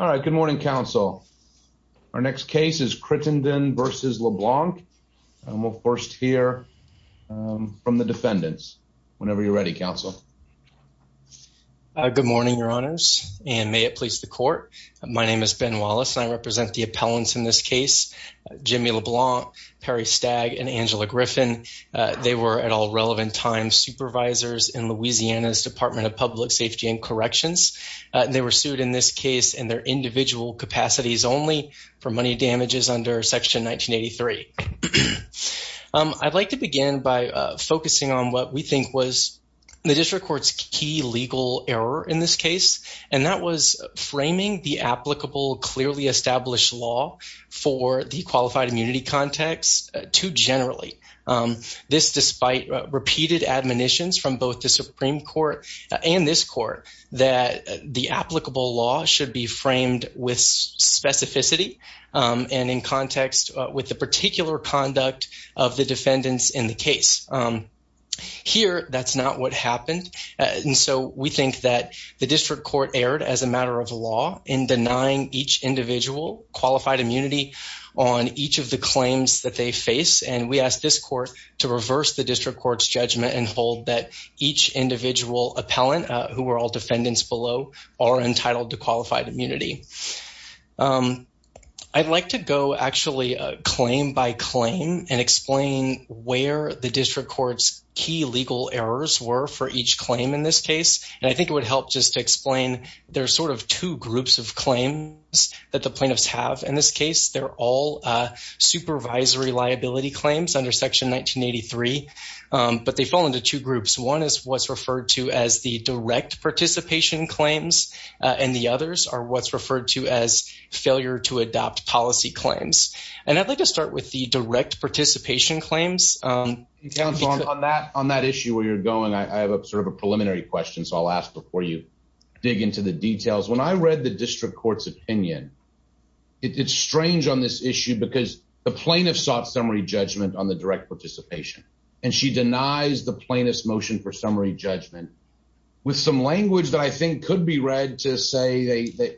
All right. Good morning, Council. Our next case is Crittenden v. LeBlanc, and we'll first hear from the defendants. Whenever you're ready, Council. Good morning, Your Honors, and may it please the Court. My name is Ben Wallace, and I represent the appellants in this case, Jimmy LeBlanc, Perry Stagg, and Angela Griffin. They were, at all relevant times, supervisors in Louisiana's Department of Public Safety and Corrections. They were sued in this case in their individual capacities only for money damages under Section 1983. I'd like to begin by focusing on what we think was the district court's key legal error in this case, and that was framing the applicable, clearly established law for the qualified immunity context too generally. This despite repeated admonitions from both the Supreme Court and this Court that the applicable law should be framed with specificity and in context with the particular conduct of the defendants in the case. Here, that's not what happened, and so we think that the district court erred as a matter of law in denying each individual qualified immunity on each of the claims that they face, and we ask this Court to reverse the district court's judgment and hold that each individual appellant, who were all defendants below, are entitled to qualified immunity. I'd like to go actually claim by claim and explain where the district court's key legal errors were for each claim in this case, and I think it would help just to explain there are sort of two groups of claims that the plaintiffs have in this case. They're all supervisory liability claims under Section 1983, but they fall into two groups. One is what's referred to as the direct participation claims, and the others are what's referred to as failure to adopt policy claims, and I'd like to start with the direct participation claims. On that issue where you're going, I have sort of a preliminary question, so I'll ask before you dig into the details. When I read the district court's opinion, it's strange on this issue because the plaintiff sought summary judgment on the direct participation, and she denies the plaintiff's motion for summary judgment with some language that I think could be read to say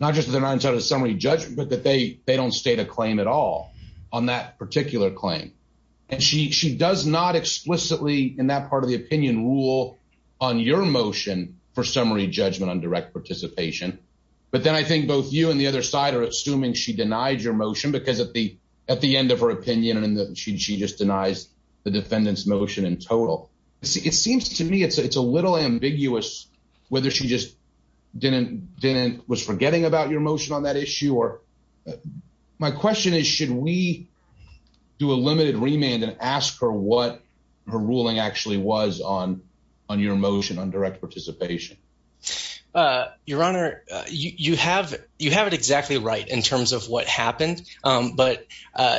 not just that they're not entitled to summary judgment, but that they don't state a claim at all on that particular claim, and she does not explicitly in that part of the opinion rule on your motion for summary judgment on direct participation, but then I think both you and the other side are assuming she denied your motion because at the end of her opinion, she just denies the defendant's motion in total. It seems to me it's a little ambiguous whether she just was forgetting about your motion on that issue. My question is should we do a limited remand and ask her what her ruling actually was on your motion on direct participation? Your Honor, you have it exactly right in terms of what happened, but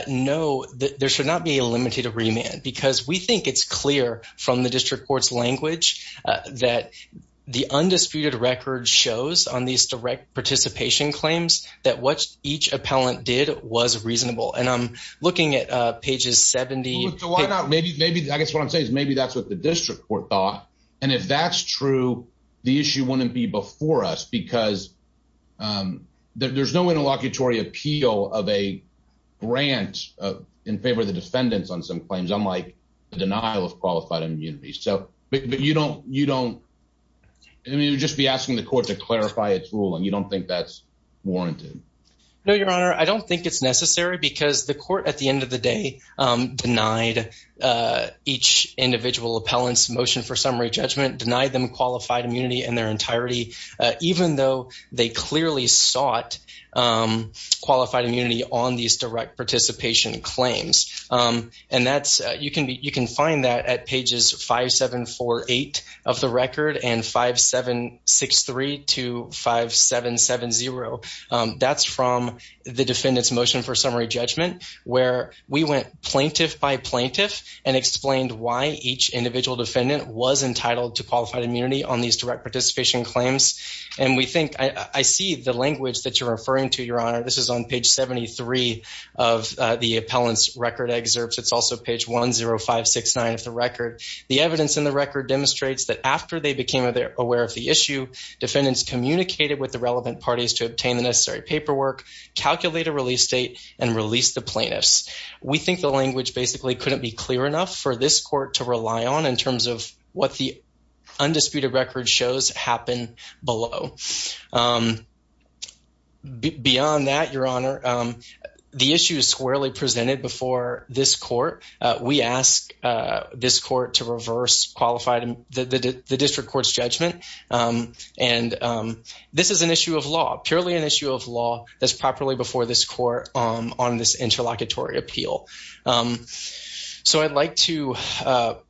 no, there should not be a limited remand because we think it's clear from the district court's language that the undisputed record shows on these direct participation claims that what each appellant did was reasonable, and I'm looking at pages 70. I guess what I'm saying is maybe that's what the district court thought, and if that's true, the issue wouldn't be before us because there's no interlocutory appeal of a grant in favor of the defendants on some claims, unlike the denial of qualified immunities, but you would just be asking the court to clarify its rule, and you don't think that's warranted. No, Your Honor, I don't think it's necessary because the court at the end of the day denied each individual appellant's motion for summary judgment, denied them qualified immunity in their entirety, even though they clearly sought qualified immunity on these direct participation claims, and you can find that at pages 5, 7, 4, 8 of the record and 5, 7, 6, 3 to 5, 7, 7, 0. That's from the defendant's motion for summary judgment where we went plaintiff by plaintiff and explained why each individual defendant was entitled to qualified immunity on these direct participation claims, and I see the language that you're referring to, Your Honor. This is on page 73 of the appellant's record excerpts. It's also page 10569 of the record. The evidence in the record demonstrates that after they became aware of the issue, defendants communicated with the relevant parties to obtain the necessary paperwork, calculate a release date, and release the plaintiffs. We think the language basically couldn't be clear enough for this court to rely on in terms of what the undisputed record shows happen below. Beyond that, Your Honor, the issue is squarely presented before this court. We ask this court to reverse the district court's judgment, and this is an issue of law, purely an issue of law that's properly before this court on this interlocutory appeal. So I'd like to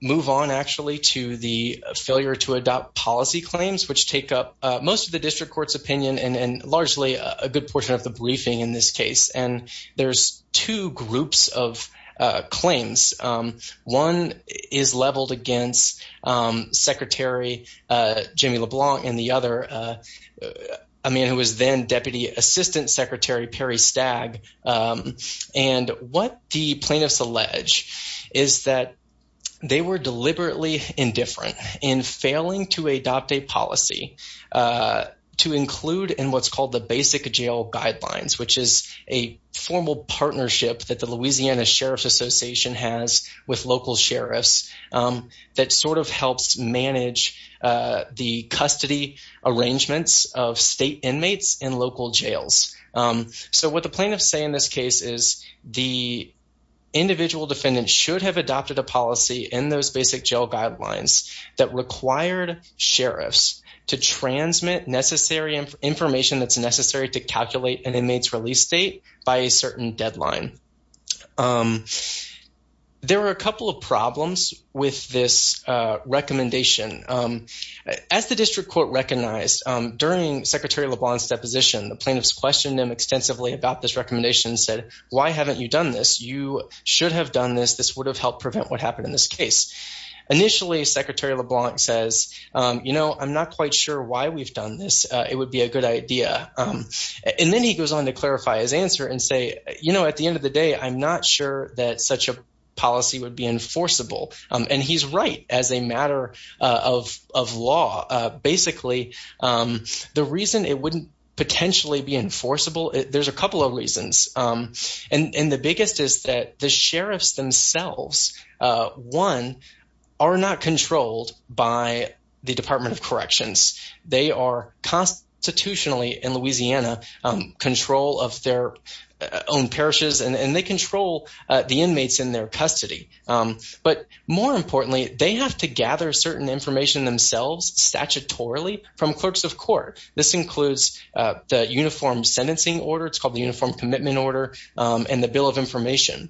move on, actually, to the failure to adopt policy claims, which take up most of the district court's opinion and largely a good portion of the briefing in this case, and there's two groups of claims. One is leveled against Secretary Jimmy LeBlanc and the other, a man who was then Deputy Assistant Secretary Perry Stagg, And what the plaintiffs allege is that they were deliberately indifferent in failing to adopt a policy to include in what's called the basic jail guidelines, which is a formal partnership that the Louisiana Sheriff's Association has with local sheriffs that sort of helps manage the custody arrangements of state inmates in local jails. So what the plaintiffs say in this case is the individual defendant should have adopted a policy in those basic jail guidelines that required sheriffs to transmit necessary information that's necessary to calculate an inmate's release date by a certain deadline. There are a couple of problems with this recommendation. As the district court recognized, during Secretary LeBlanc's deposition, the plaintiffs questioned him extensively about this recommendation and said, Why haven't you done this? You should have done this. This would have helped prevent what happened in this case. Initially, Secretary LeBlanc says, you know, I'm not quite sure why we've done this. It would be a good idea. And then he goes on to clarify his answer and say, you know, at the end of the day, I'm not sure that such a policy would be enforceable. And he's right as a matter of law. Basically, the reason it wouldn't potentially be enforceable, there's a couple of reasons. And the biggest is that the sheriffs themselves, one, are not controlled by the Department of Corrections. They are constitutionally in Louisiana control of their own parishes and they control the inmates in their custody. But more importantly, they have to gather certain information themselves statutorily from clerks of court. This includes the Uniform Sentencing Order. It's called the Uniform Commitment Order and the Bill of Information.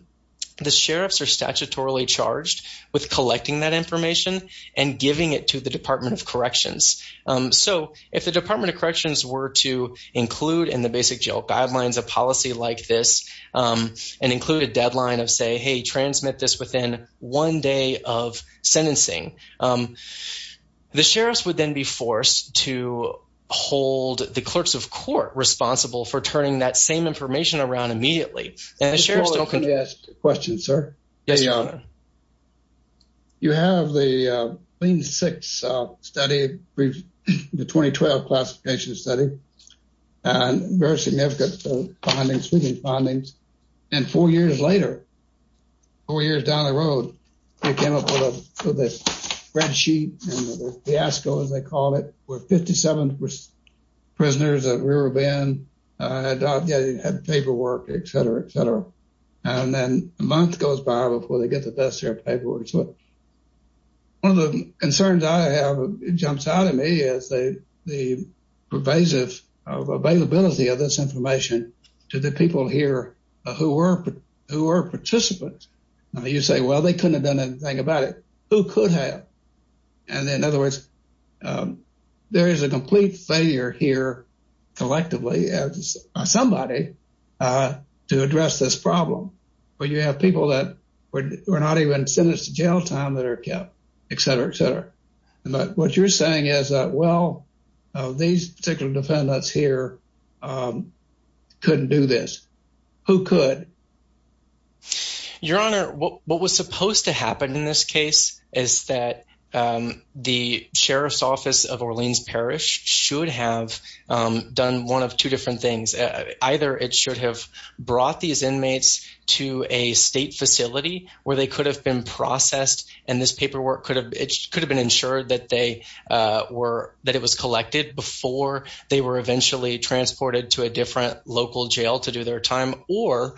The sheriffs are statutorily charged with collecting that information and giving it to the Department of Corrections. So if the Department of Corrections were to include in the basic jail guidelines a policy like this and include a deadline of say, hey, transmit this within one day of sentencing, the sheriffs would then be forced to hold the clerks of court responsible for turning that same information around immediately. Can I ask a question, sir? Yes, Your Honor. You have the Clean Six Study, the 2012 classification study, and very significant findings, sweeping findings. And four years later, four years down the road, they came up with a spreadsheet and a fiasco, as they call it, where 57 prisoners at River Bend had paperwork, et cetera, et cetera. And then a month goes by before they get the best of their paperwork. One of the concerns I have jumps out at me is the pervasive availability of this information to the people here who were participants. You say, well, they couldn't have done anything about it. Who could have? And in other words, there is a complete failure here collectively as somebody to address this problem. But you have people that were not even sentenced to jail time that are kept, et cetera, et cetera. But what you're saying is that, well, these particular defendants here couldn't do this. Who could? Your Honor, what was supposed to happen in this case is that the sheriff's office of Orleans Parish should have done one of two different things. Either it should have brought these inmates to a state facility where they could have been processed. And this paperwork could have been ensured that they were that it was collected before they were eventually transported to a different local jail to do their time. Or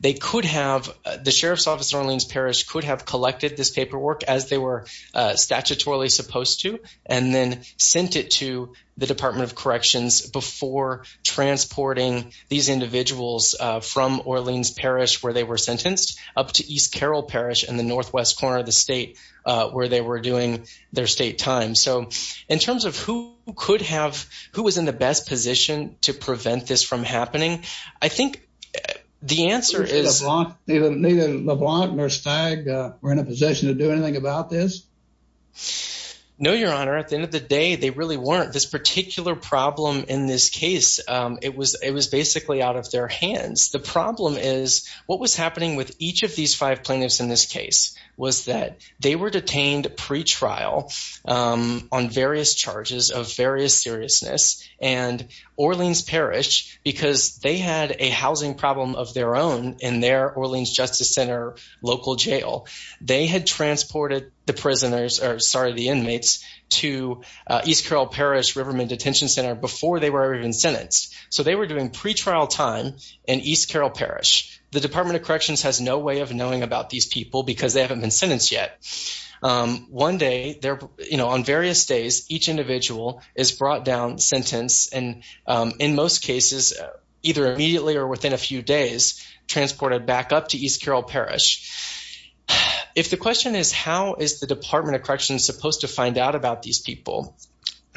they could have the sheriff's office Orleans Parish could have collected this paperwork as they were statutorily supposed to, and then sent it to the Department of Corrections before transporting these individuals from Orleans Parish, where they were sentenced up to East Carroll Parish in the northwest corner of the state where they were doing their state time. So in terms of who could have who was in the best position to prevent this from happening, I think the answer is not even the block nurse tag. We're in a position to do anything about this. No, Your Honor. At the end of the day, they really weren't this particular problem in this case. It was it was basically out of their hands. The problem is what was happening with each of these five plaintiffs in this case was that they were detained pretrial on various charges of various seriousness. And Orleans Parish, because they had a housing problem of their own in their Orleans Justice Center, local jail. They had transported the prisoners or sorry, the inmates to East Carroll Parish Riverman Detention Center before they were even sentenced. So they were doing pretrial time in East Carroll Parish. The Department of Corrections has no way of knowing about these people because they haven't been sentenced yet. One day there on various days, each individual is brought down sentence. And in most cases, either immediately or within a few days transported back up to East Carroll Parish. If the question is, how is the Department of Corrections supposed to find out about these people?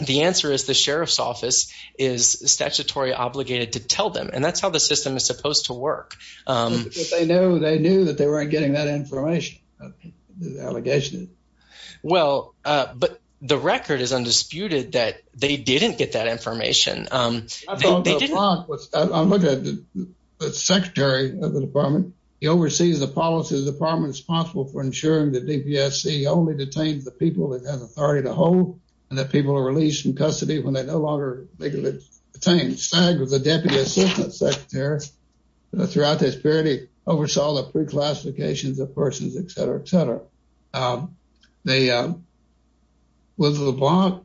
The answer is the sheriff's office is statutory obligated to tell them. And that's how the system is supposed to work. They knew that they weren't getting that information. Allegation. Well, but the record is undisputed that they didn't get that information. They didn't. I looked at the secretary of the department. He oversees the policy department responsible for ensuring that DPSC only detains the people that has authority to hold and that people are released from custody when they no longer make it. Stag was the deputy assistant secretary throughout this period. He oversaw the pre classifications of persons, etc., etc. With LeBlanc,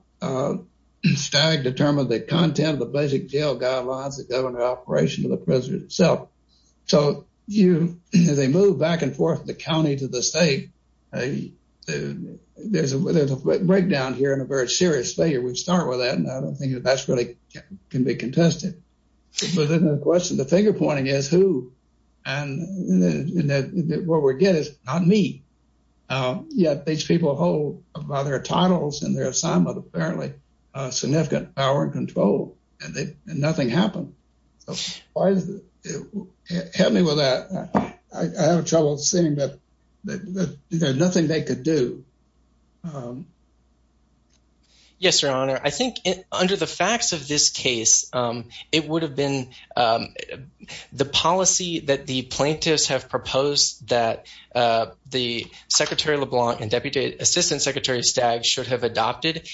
Stag determined the content of the basic jail guidelines, the government operation of the prison itself. So they moved back and forth from the county to the state. There's a breakdown here and a very serious failure. We start with that. And I don't think that that's really can be contested. But then the question, the finger pointing is who and what we're getting is not me. Yet these people hold their titles and their assignment, apparently significant power and control and nothing happened. Help me with that. I have trouble saying that there's nothing they could do. Yes, your honor, I think under the facts of this case, it would have been the policy that the plaintiffs have proposed that the secretary LeBlanc and deputy assistant secretary Stag should have adopted.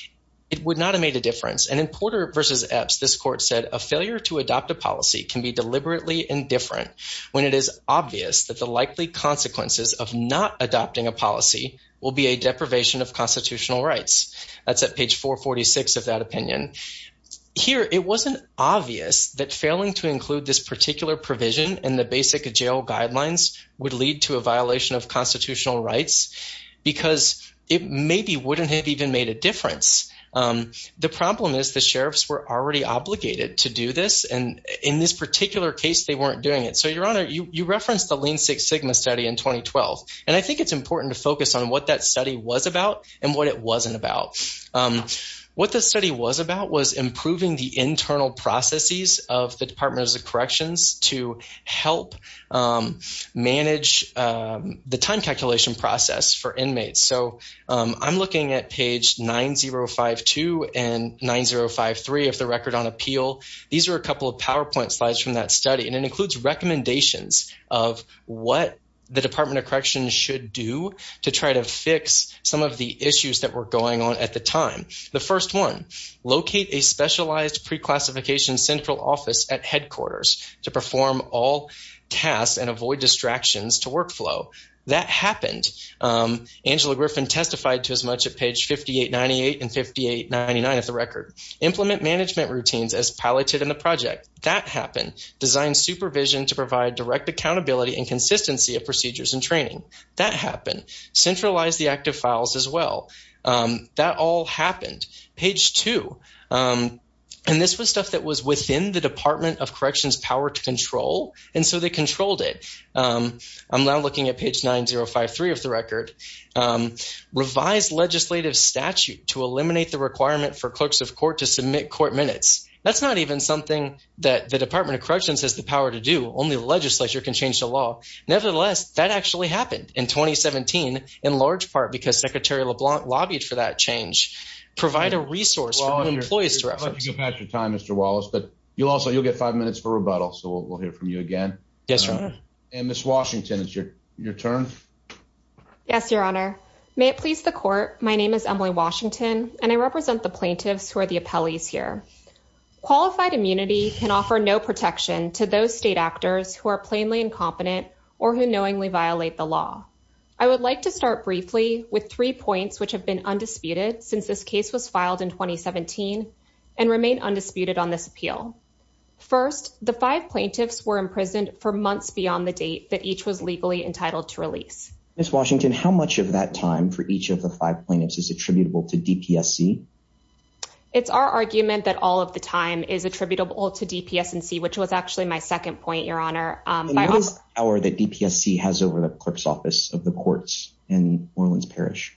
It would not have made a difference. And in Porter versus Epps, this court said a failure to adopt a policy can be deliberately indifferent when it is obvious that the likely consequences of not adopting a policy will be a deprivation of constitutional rights. That's at page 446 of that opinion here. It wasn't obvious that failing to include this particular provision in the basic jail guidelines would lead to a violation of constitutional rights because it maybe wouldn't have even made a difference. The problem is the sheriffs were already obligated to do this. And in this particular case, they weren't doing it. So, your honor, you referenced the Lean Six Sigma study in 2012. And I think it's important to focus on what that study was about and what it wasn't about. What the study was about was improving the internal processes of the Department of Corrections to help manage the time calculation process for inmates. So, I'm looking at page 9052 and 9053 of the record on appeal. These are a couple of PowerPoint slides from that study, and it includes recommendations of what the Department of Corrections should do to try to fix some of the issues that were going on at the time. The first one, locate a specialized pre-classification central office at headquarters to perform all tasks and avoid distractions to workflow. That happened. Angela Griffin testified to as much at page 5898 and 5899 of the record. Implement management routines as piloted in the project. That happened. Design supervision to provide direct accountability and consistency of procedures and training. That happened. Centralize the active files as well. That all happened. Page two, and this was stuff that was within the Department of Corrections' power to control, and so they controlled it. I'm now looking at page 9053 of the record. Revise legislative statute to eliminate the requirement for clerks of court to submit court minutes. That's not even something that the Department of Corrections has the power to do. Only the legislature can change the law. Nevertheless, that actually happened in 2017 in large part because Secretary LeBlanc lobbied for that change. Provide a resource for employees to reference. I'd like to go past your time, Mr. Wallace, but you'll also get five minutes for rebuttal, so we'll hear from you again. Yes, Your Honor. And, Ms. Washington, it's your turn. Yes, Your Honor. May it please the court, my name is Emily Washington, and I represent the plaintiffs who are the appellees here. Qualified immunity can offer no protection to those state actors who are plainly incompetent or who knowingly violate the law. I would like to start briefly with three points which have been undisputed since this case was filed in 2017 and remain undisputed on this appeal. First, the five plaintiffs were imprisoned for months beyond the date that each was legally entitled to release. Ms. Washington, how much of that time for each of the five plaintiffs is attributable to DPSC? It's our argument that all of the time is attributable to DPSC, which was actually my second point, Your Honor. And what is the power that DPSC has over the clerk's office of the courts in Orleans Parish?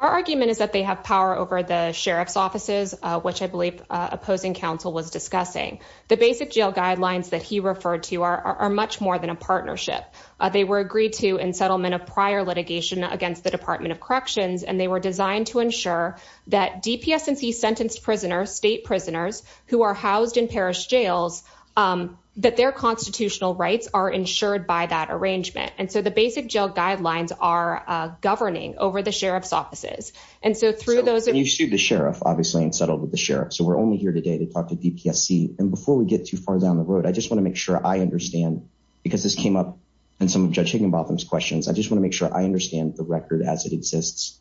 Our argument is that they have power over the sheriff's offices, which I believe opposing counsel was discussing. The basic jail guidelines that he referred to are much more than a partnership. They were agreed to in settlement of prior litigation against the Department of Corrections, and they were designed to ensure that DPSC sentenced prisoners, state prisoners, who are housed in parish jails, that their constitutional rights are ensured by that arrangement. And so the basic jail guidelines are governing over the sheriff's offices. And so through those... And you sued the sheriff, obviously, and settled with the sheriff. So we're only here today to talk to DPSC. And before we get too far down the road, I just want to make sure I understand, because this came up in some of Judge Higginbotham's questions. I just want to make sure I understand the record as it exists.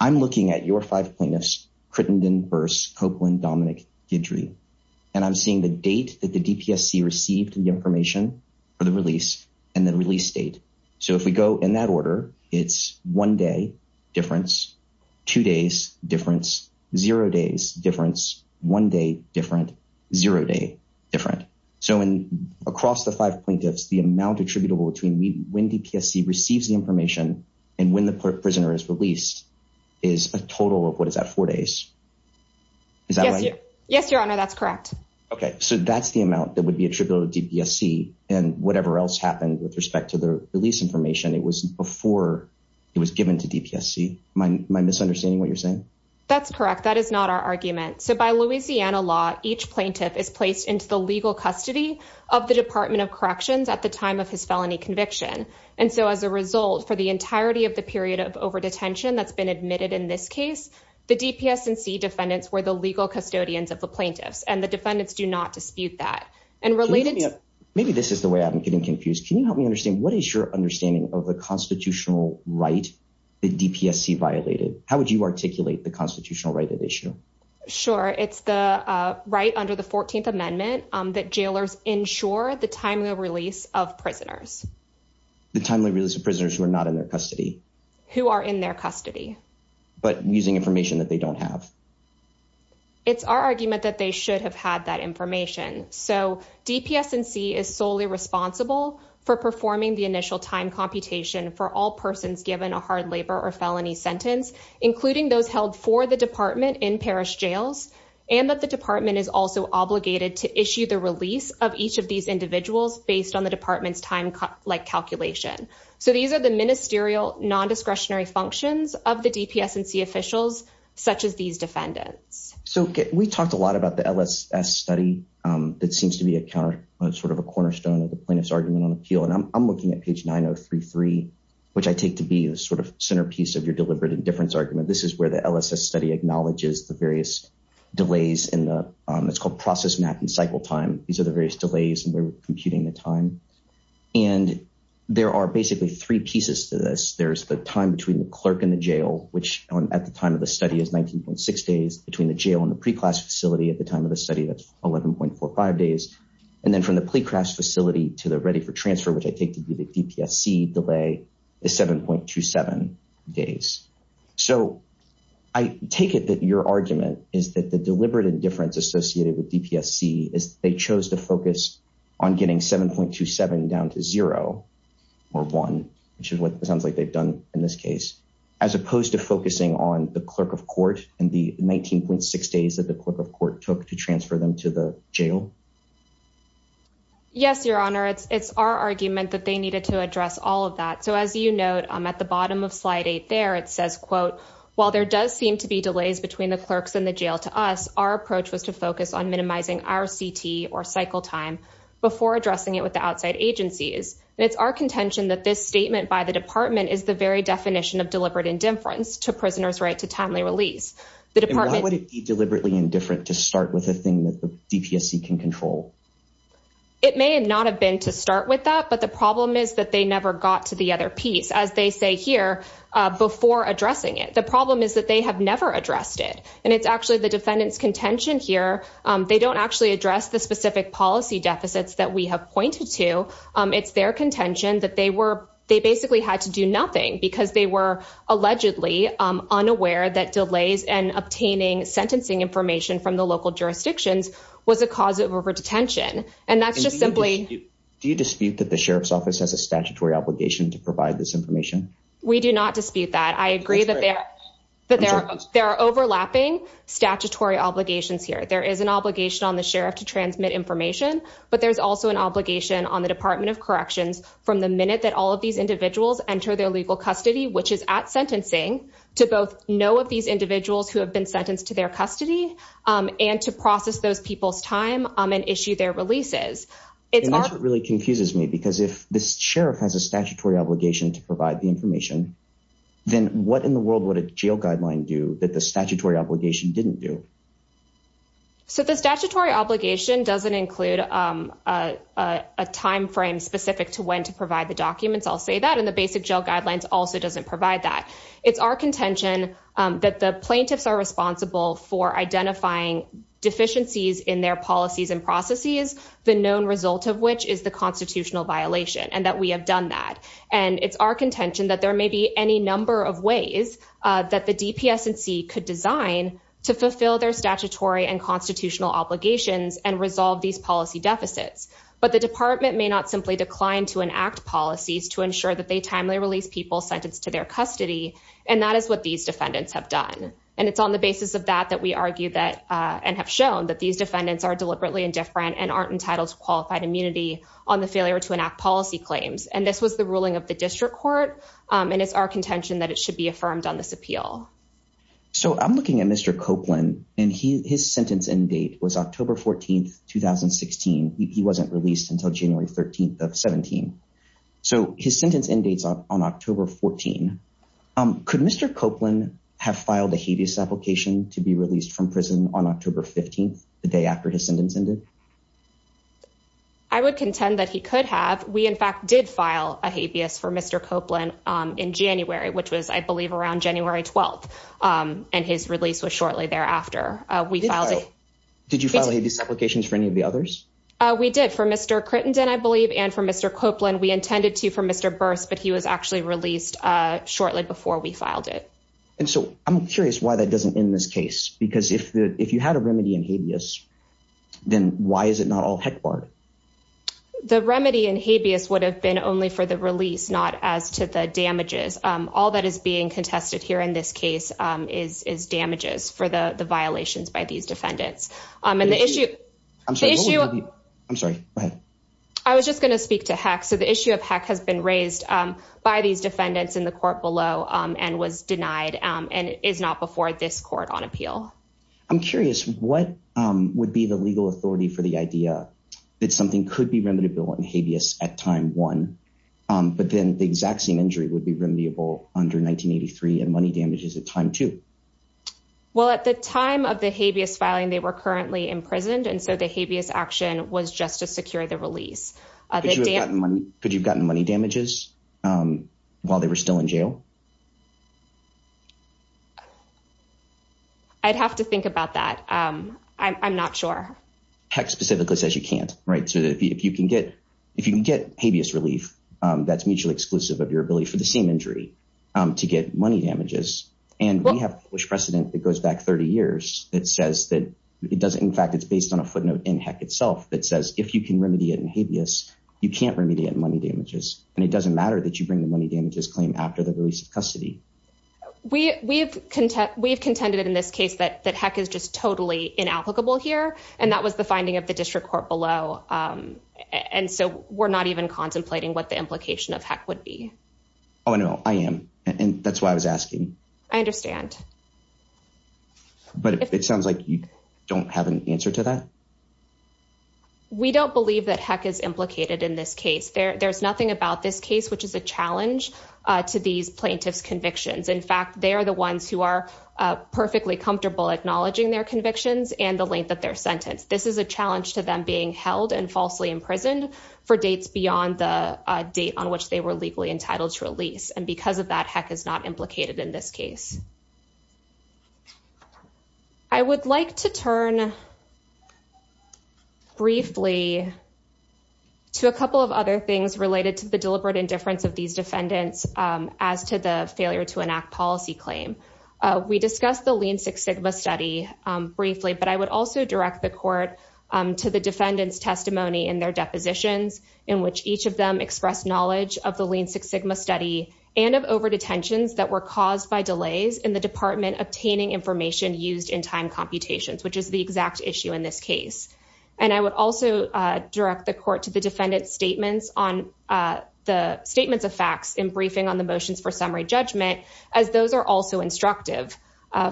I'm looking at your five plaintiffs, Crittenden, Burse, Copeland, Dominick, Guidry, and I'm seeing the date that the DPSC received the information for the release and the release date. So if we go in that order, it's one day difference, two days difference, zero days difference, one day different, zero day different. So across the five plaintiffs, the amount attributable between when DPSC receives the information and when the prisoner is released is a total of, what is that, four days? Is that right? Yes, Your Honor, that's correct. Okay. So that's the amount that would be attributable to DPSC. And whatever else happened with respect to the release information, it was before it was given to DPSC. Am I misunderstanding what you're saying? That's correct. That is not our argument. So by Louisiana law, each plaintiff is placed into the legal custody of the Department of Corrections at the time of his felony conviction. And so as a result, for the entirety of the period of overdetention that's been admitted in this case, the DPSC defendants were the legal custodians of the plaintiffs, and the defendants do not dispute that. Maybe this is the way I'm getting confused. Can you help me understand? What is your understanding of the constitutional right that DPSC violated? How would you articulate the constitutional right at issue? Sure. It's the right under the 14th Amendment that jailers ensure the timely release of prisoners. The timely release of prisoners who are not in their custody. Who are in their custody. But using information that they don't have. It's our argument that they should have had that information. So DPSC is solely responsible for performing the initial time computation for all persons given a hard labor or felony sentence, including those held for the department in parish jails. And that the department is also obligated to issue the release of each of these individuals based on the department's time-like calculation. So these are the ministerial, non-discretionary functions of the DPSC officials, such as these defendants. So we talked a lot about the LSS study that seems to be a counter, sort of a cornerstone of the plaintiff's argument on appeal. And I'm looking at page 9033, which I take to be the sort of centerpiece of your deliberate indifference argument. This is where the LSS study acknowledges the various delays in the – it's called process, map, and cycle time. These are the various delays and we're computing the time. And there are basically three pieces to this. There's the time between the clerk and the jail, which at the time of the study is 19.6 days. Between the jail and the pre-class facility at the time of the study, that's 11.45 days. And then from the plea crafts facility to the ready for transfer, which I take to be the DPSC delay, is 7.27 days. So I take it that your argument is that the deliberate indifference associated with DPSC is they chose to focus on getting 7.27 down to zero or one, which is what it sounds like they've done in this case, as opposed to focusing on the clerk of court and the 19.6 days that the clerk of court took to transfer them to the jail? Yes, Your Honor. It's our argument that they needed to address all of that. So as you note, at the bottom of slide eight there, it says, quote, while there does seem to be delays between the clerks and the jail to us, our approach was to focus on minimizing RCT or cycle time before addressing it with the outside agencies. And it's our contention that this statement by the department is the very definition of deliberate indifference to prisoner's right to timely release. Why would it be deliberately indifferent to start with a thing that the DPSC can control? It may not have been to start with that, but the problem is that they never got to the other piece, as they say here, before addressing it. The problem is that they have never addressed it. And it's actually the defendant's contention here. They don't actually address the specific policy deficits that we have pointed to. It's their contention that they were they basically had to do nothing because they were allegedly unaware that delays and obtaining sentencing information from the local jurisdictions was a cause of over detention. And that's just simply. Do you dispute that the sheriff's office has a statutory obligation to provide this information? We do not dispute that. I agree that there are overlapping statutory obligations here. There is an obligation on the sheriff to transmit information, but there's also an obligation on the Department of Corrections from the minute that all of these individuals enter their legal custody, which is at sentencing to both know of these individuals who have been sentenced to their custody and to process those people's time and issue their releases. It really confuses me because if this sheriff has a statutory obligation to provide the information, then what in the world would a jail guideline do that the statutory obligation didn't do? So the statutory obligation doesn't include a time frame specific to when to provide the documents. I'll say that in the basic jail guidelines also doesn't provide that. It's our contention that the plaintiffs are responsible for identifying deficiencies in their policies and processes, the known result of which is the constitutional violation and that we have done that. And it's our contention that there may be any number of ways that the DPS and C could design to fulfill their statutory and constitutional obligations and resolve these policy deficits. But the department may not simply decline to enact policies to ensure that they timely release people sentenced to their custody. And that is what these defendants have done. And it's on the basis of that that we argue that and have shown that these defendants are deliberately indifferent and aren't entitled to qualified immunity on the failure to enact policy claims. And this was the ruling of the district court. And it's our contention that it should be affirmed on this appeal. So I'm looking at Mr. Copeland and his sentence end date was October 14th, 2016. He wasn't released until January 13th of 17. So his sentence end dates on October 14. Could Mr. Copeland have filed a habeas application to be released from prison on October 15th, the day after his sentence ended? I would contend that he could have. We, in fact, did file a habeas for Mr. Copeland in January, which was, I believe, around January 12th. And his release was shortly thereafter. We filed. Did you file these applications for any of the others? We did for Mr. Crittenden, I believe. And for Mr. Copeland, we intended to for Mr. Burst. But he was actually released shortly before we filed it. And so I'm curious why that doesn't end this case. Because if you had a remedy in habeas, then why is it not all HEC part? The remedy in habeas would have been only for the release, not as to the damages. All that is being contested here in this case is damages for the violations by these defendants. And the issue. I'm sorry. I'm sorry. I was just going to speak to HEC. So the issue of HEC has been raised by these defendants in the court below and was denied and is not before this court on appeal. I'm curious what would be the legal authority for the idea that something could be remediable in habeas at time one. But then the exact same injury would be remediable under 1983 and money damages at time two. Well, at the time of the habeas filing, they were currently imprisoned. And so the habeas action was just to secure the release. Could you have gotten money damages while they were still in jail? I'd have to think about that. I'm not sure. HEC specifically says you can't. Right. So if you can get if you can get habeas relief, that's mutually exclusive of your ability for the same injury to get money damages. And we have precedent that goes back 30 years. It says that it does. In fact, it's based on a footnote in HEC itself that says if you can remedy it in habeas, you can't remediate money damages. And it doesn't matter that you bring the money damages claim after the release of custody. We we've we've contended in this case that that HEC is just totally inapplicable here. And that was the finding of the district court below. And so we're not even contemplating what the implication of HEC would be. Oh, no, I am. And that's why I was asking. I understand. But it sounds like you don't have an answer to that. We don't believe that HEC is implicated in this case. There's nothing about this case, which is a challenge to these plaintiffs convictions. In fact, they are the ones who are perfectly comfortable acknowledging their convictions and the length of their sentence. This is a challenge to them being held and falsely imprisoned for dates beyond the date on which they were legally entitled to release. And because of that, HEC is not implicated in this case. I would like to turn. Briefly. To a couple of other things related to the deliberate indifference of these defendants as to the failure to enact policy claim. We discussed the Lean Six Sigma study briefly, but I would also direct the court to the defendant's testimony in their depositions, in which each of them express knowledge of the Lean Six Sigma study and of overdetentions that were caused by delays in the department obtaining information used in time computations, which is the exact issue in this case. And I would also direct the court to the defendant's statements of facts in briefing on the motions for summary judgment, as those are also instructive.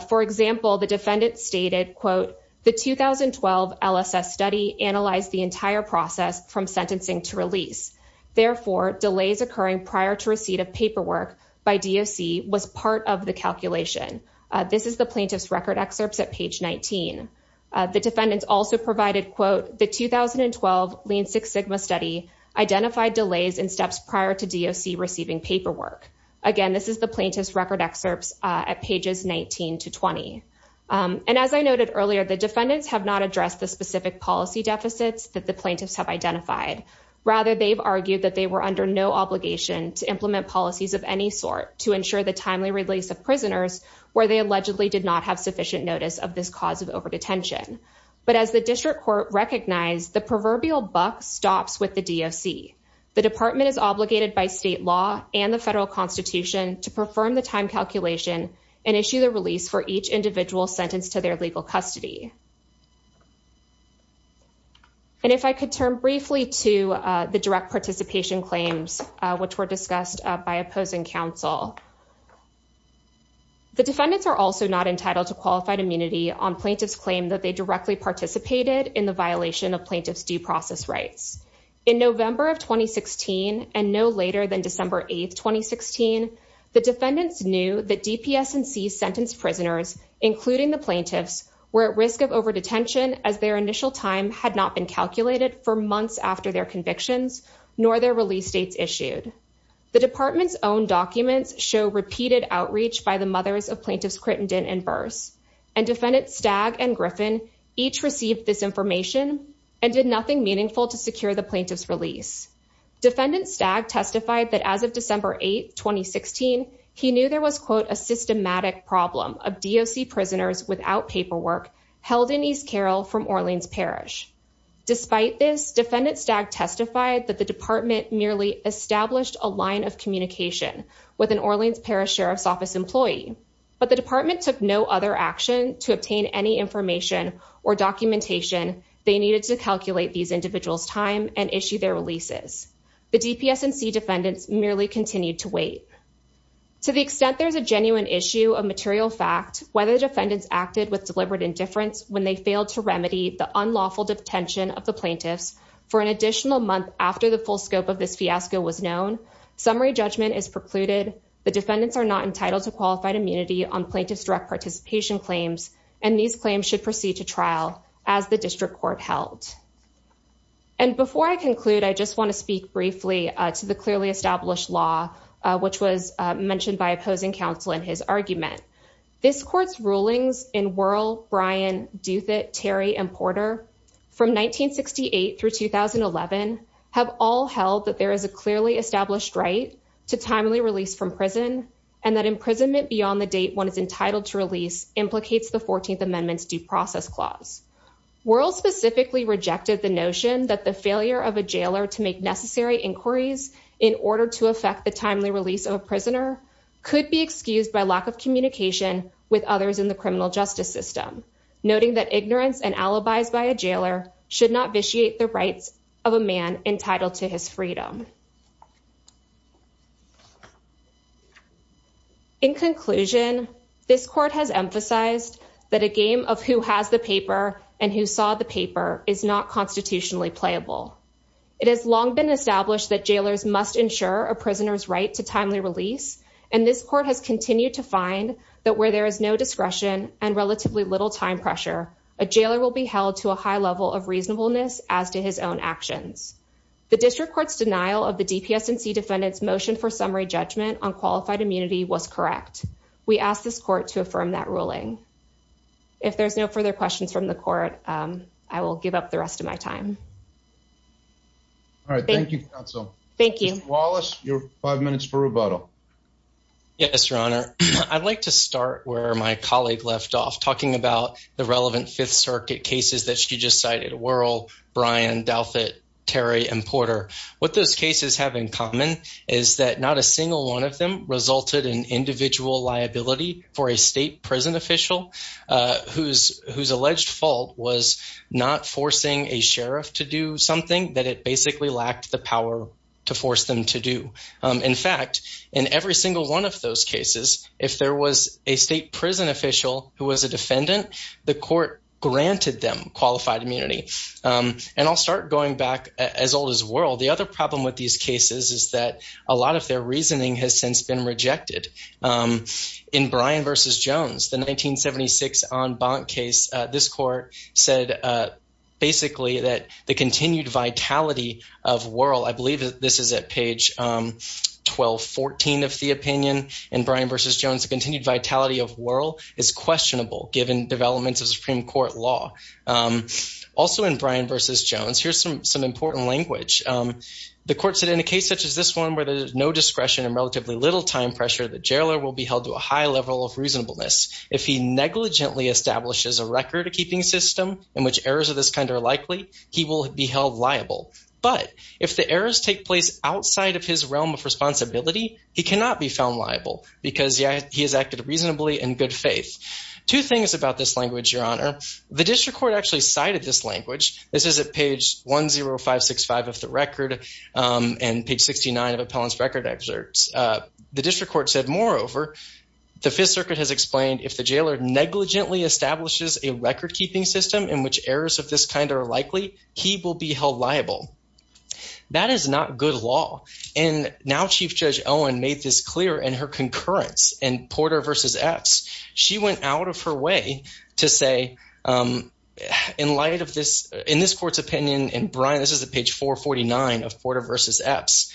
For example, the defendant stated, quote, the 2012 LSS study analyzed the entire process from sentencing to release. Therefore, delays occurring prior to receipt of paperwork by DOC was part of the calculation. This is the plaintiff's record excerpts at page 19. The defendants also provided, quote, the 2012 Lean Six Sigma study identified delays in steps prior to DOC receiving paperwork. Again, this is the plaintiff's record excerpts at pages 19 to 20. And as I noted earlier, the defendants have not addressed the specific policy deficits that the plaintiffs have identified. Rather, they've argued that they were under no obligation to implement policies of any sort to ensure the timely release of prisoners where they allegedly did not have sufficient notice of this cause of overdetention. But as the district court recognized, the proverbial buck stops with the DOC. The department is obligated by state law and the federal constitution to perform the time calculation and issue the release for each individual sentenced to their legal custody. And if I could turn briefly to the direct participation claims, which were discussed by opposing counsel. The defendants are also not entitled to qualified immunity on plaintiff's claim that they directly participated in the violation of plaintiff's due process rights. In November of 2016, and no later than December 8, 2016, the defendants knew that DPS and C sentenced prisoners, including the plaintiffs, were at risk of overdetention as their initial time had not been calculated for months after their convictions, nor their release dates issued. The department's own documents show repeated outreach by the mothers of plaintiffs Crittenden and Burse. And defendants Stagg and Griffin each received this information and did nothing meaningful to secure the plaintiff's release. Defendant Stagg testified that as of December 8, 2016, he knew there was, quote, a systematic problem of DOC prisoners without paperwork held in East Carroll from Orleans Parish. Despite this, defendant Stagg testified that the department merely established a line of communication with an Orleans Parish Sheriff's Office employee. But the department took no other action to obtain any information or documentation they needed to calculate these individuals' time and issue their releases. The DPS and C defendants merely continued to wait. To the extent there's a genuine issue of material fact, whether defendants acted with deliberate indifference when they failed to remedy the unlawful detention of the plaintiffs for an additional month after the full scope of this fiasco was known, summary judgment is precluded. The defendants are not entitled to qualified immunity on plaintiff's direct participation claims, and these claims should proceed to trial as the district court held. And before I conclude, I just want to speak briefly to the clearly established law, which was mentioned by opposing counsel in his argument. This court's rulings in Wuerl, Bryan, Duthitt, Terry, and Porter from 1968 through 2011 have all held that there is a clearly established right to timely release from prison and that imprisonment beyond the date one is entitled to release implicates the 14th Amendment's due process clause. Wuerl specifically rejected the notion that the failure of a jailer to make necessary inquiries in order to affect the timely release of a prisoner could be excused by lack of communication with others in the criminal justice system, noting that ignorance and alibis by a jailer should not vitiate the rights of a man entitled to his freedom. In conclusion, this court has emphasized that a game of who has the paper and who saw the paper is not constitutionally playable. It has long been established that jailers must ensure a prisoner's right to timely release, and this court has continued to find that where there is no discretion and relatively little time pressure, a jailer will be held to a high level of reasonableness as to his own actions. The district court's denial of the DPSNC defendant's motion for summary judgment on qualified immunity was correct. We ask this court to affirm that ruling. If there's no further questions from the court, I will give up the rest of my time. All right, thank you, counsel. Thank you. Mr. Wallace, your five minutes for rebuttal. Yes, Your Honor. I'd like to start where my colleague left off, talking about the relevant Fifth Circuit cases that you just cited, Worrell, Bryan, Douthat, Terry, and Porter. What those cases have in common is that not a single one of them resulted in individual liability for a state prison official whose alleged fault was not forcing a sheriff to do something that it basically lacked the power to force them to do. In fact, in every single one of those cases, if there was a state prison official who was a defendant, the court granted them qualified immunity. And I'll start going back as old as Worrell. The other problem with these cases is that a lot of their reasoning has since been rejected. In Bryan v. Jones, the 1976 En Bant case, this court said basically that the continued vitality of Worrell, I believe this is at page 1214 of the opinion, in Bryan v. Jones, the continued vitality of Worrell is questionable given developments of Supreme Court law. Also in Bryan v. Jones, here's some important language. The court said in a case such as this one where there's no discretion and relatively little time pressure, the jailer will be held to a high level of reasonableness. If he negligently establishes a record-keeping system in which errors of this kind are likely, he will be held liable. But if the errors take place outside of his realm of responsibility, he cannot be found liable because he has acted reasonably in good faith. Two things about this language, Your Honor. The district court actually cited this language. This is at page 10565 of the record and page 69 of appellant's record excerpts. The district court said, moreover, the Fifth Circuit has explained if the jailer negligently establishes a record-keeping system in which errors of this kind are likely, he will be held liable. That is not good law. And now Chief Judge Owen made this clear in her concurrence in Porter v. Epps. She went out of her way to say in light of this – in this court's opinion, and Brian, this is at page 449 of Porter v. Epps.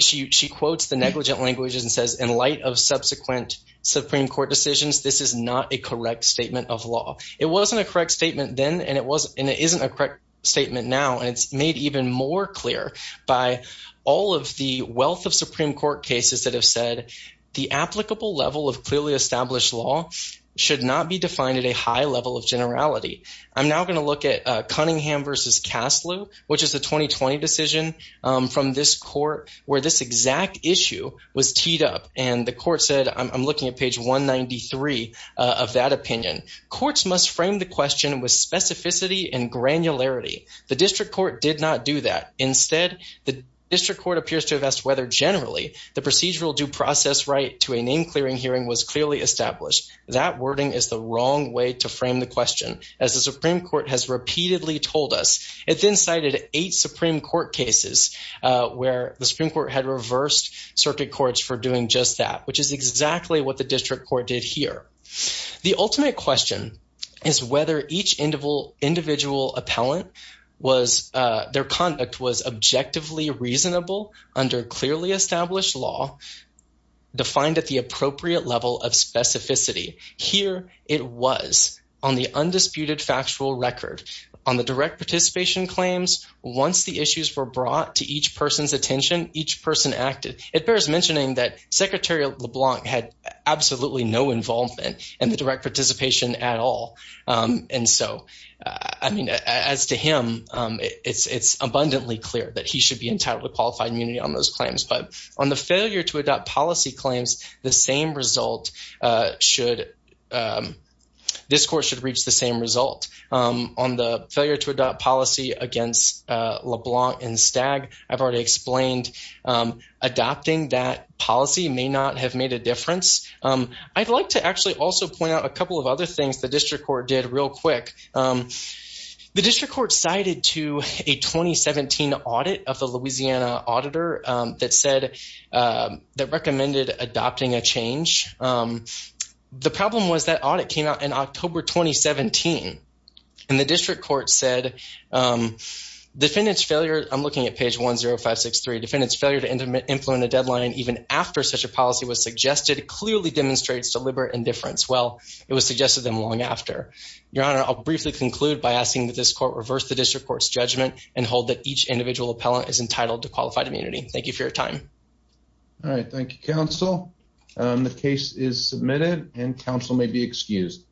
She quotes the negligent language and says in light of subsequent Supreme Court decisions, this is not a correct statement of law. It wasn't a correct statement then and it wasn't – and it isn't a correct statement now. And it's made even more clear by all of the wealth of Supreme Court cases that have said the applicable level of clearly established law should not be defined at a high level of generality. I'm now going to look at Cunningham v. Caslew, which is a 2020 decision from this court where this exact issue was teed up. And the court said – I'm looking at page 193 of that opinion. Courts must frame the question with specificity and granularity. The district court did not do that. Instead, the district court appears to have asked whether generally the procedural due process right to a name-clearing hearing was clearly established. That wording is the wrong way to frame the question, as the Supreme Court has repeatedly told us. It then cited eight Supreme Court cases where the Supreme Court had reversed circuit courts for doing just that, which is exactly what the district court did here. The ultimate question is whether each individual appellant was – their conduct was objectively reasonable under clearly established law defined at the appropriate level of specificity. Here it was on the undisputed factual record. On the direct participation claims, once the issues were brought to each person's attention, each person acted. It bears mentioning that Secretary LeBlanc had absolutely no involvement in the direct participation at all. And so, I mean, as to him, it's abundantly clear that he should be entitled to qualified immunity on those claims. But on the failure to adopt policy claims, the same result should – this court should reach the same result. On the failure to adopt policy against LeBlanc and Stagg, I've already explained adopting that policy may not have made a difference. I'd like to actually also point out a couple of other things the district court did real quick. The district court cited to a 2017 audit of the Louisiana auditor that said – that recommended adopting a change. The problem was that audit came out in October 2017. And the district court said defendant's failure – I'm looking at page 10563. Defendant's failure to implement a deadline even after such a policy was suggested clearly demonstrates deliberate indifference. Well, it was suggested to them long after. Your Honor, I'll briefly conclude by asking that this court reverse the district court's judgment and hold that each individual appellant is entitled to qualified immunity. Thank you for your time. All right. Thank you, counsel. The case is submitted and counsel may be excused.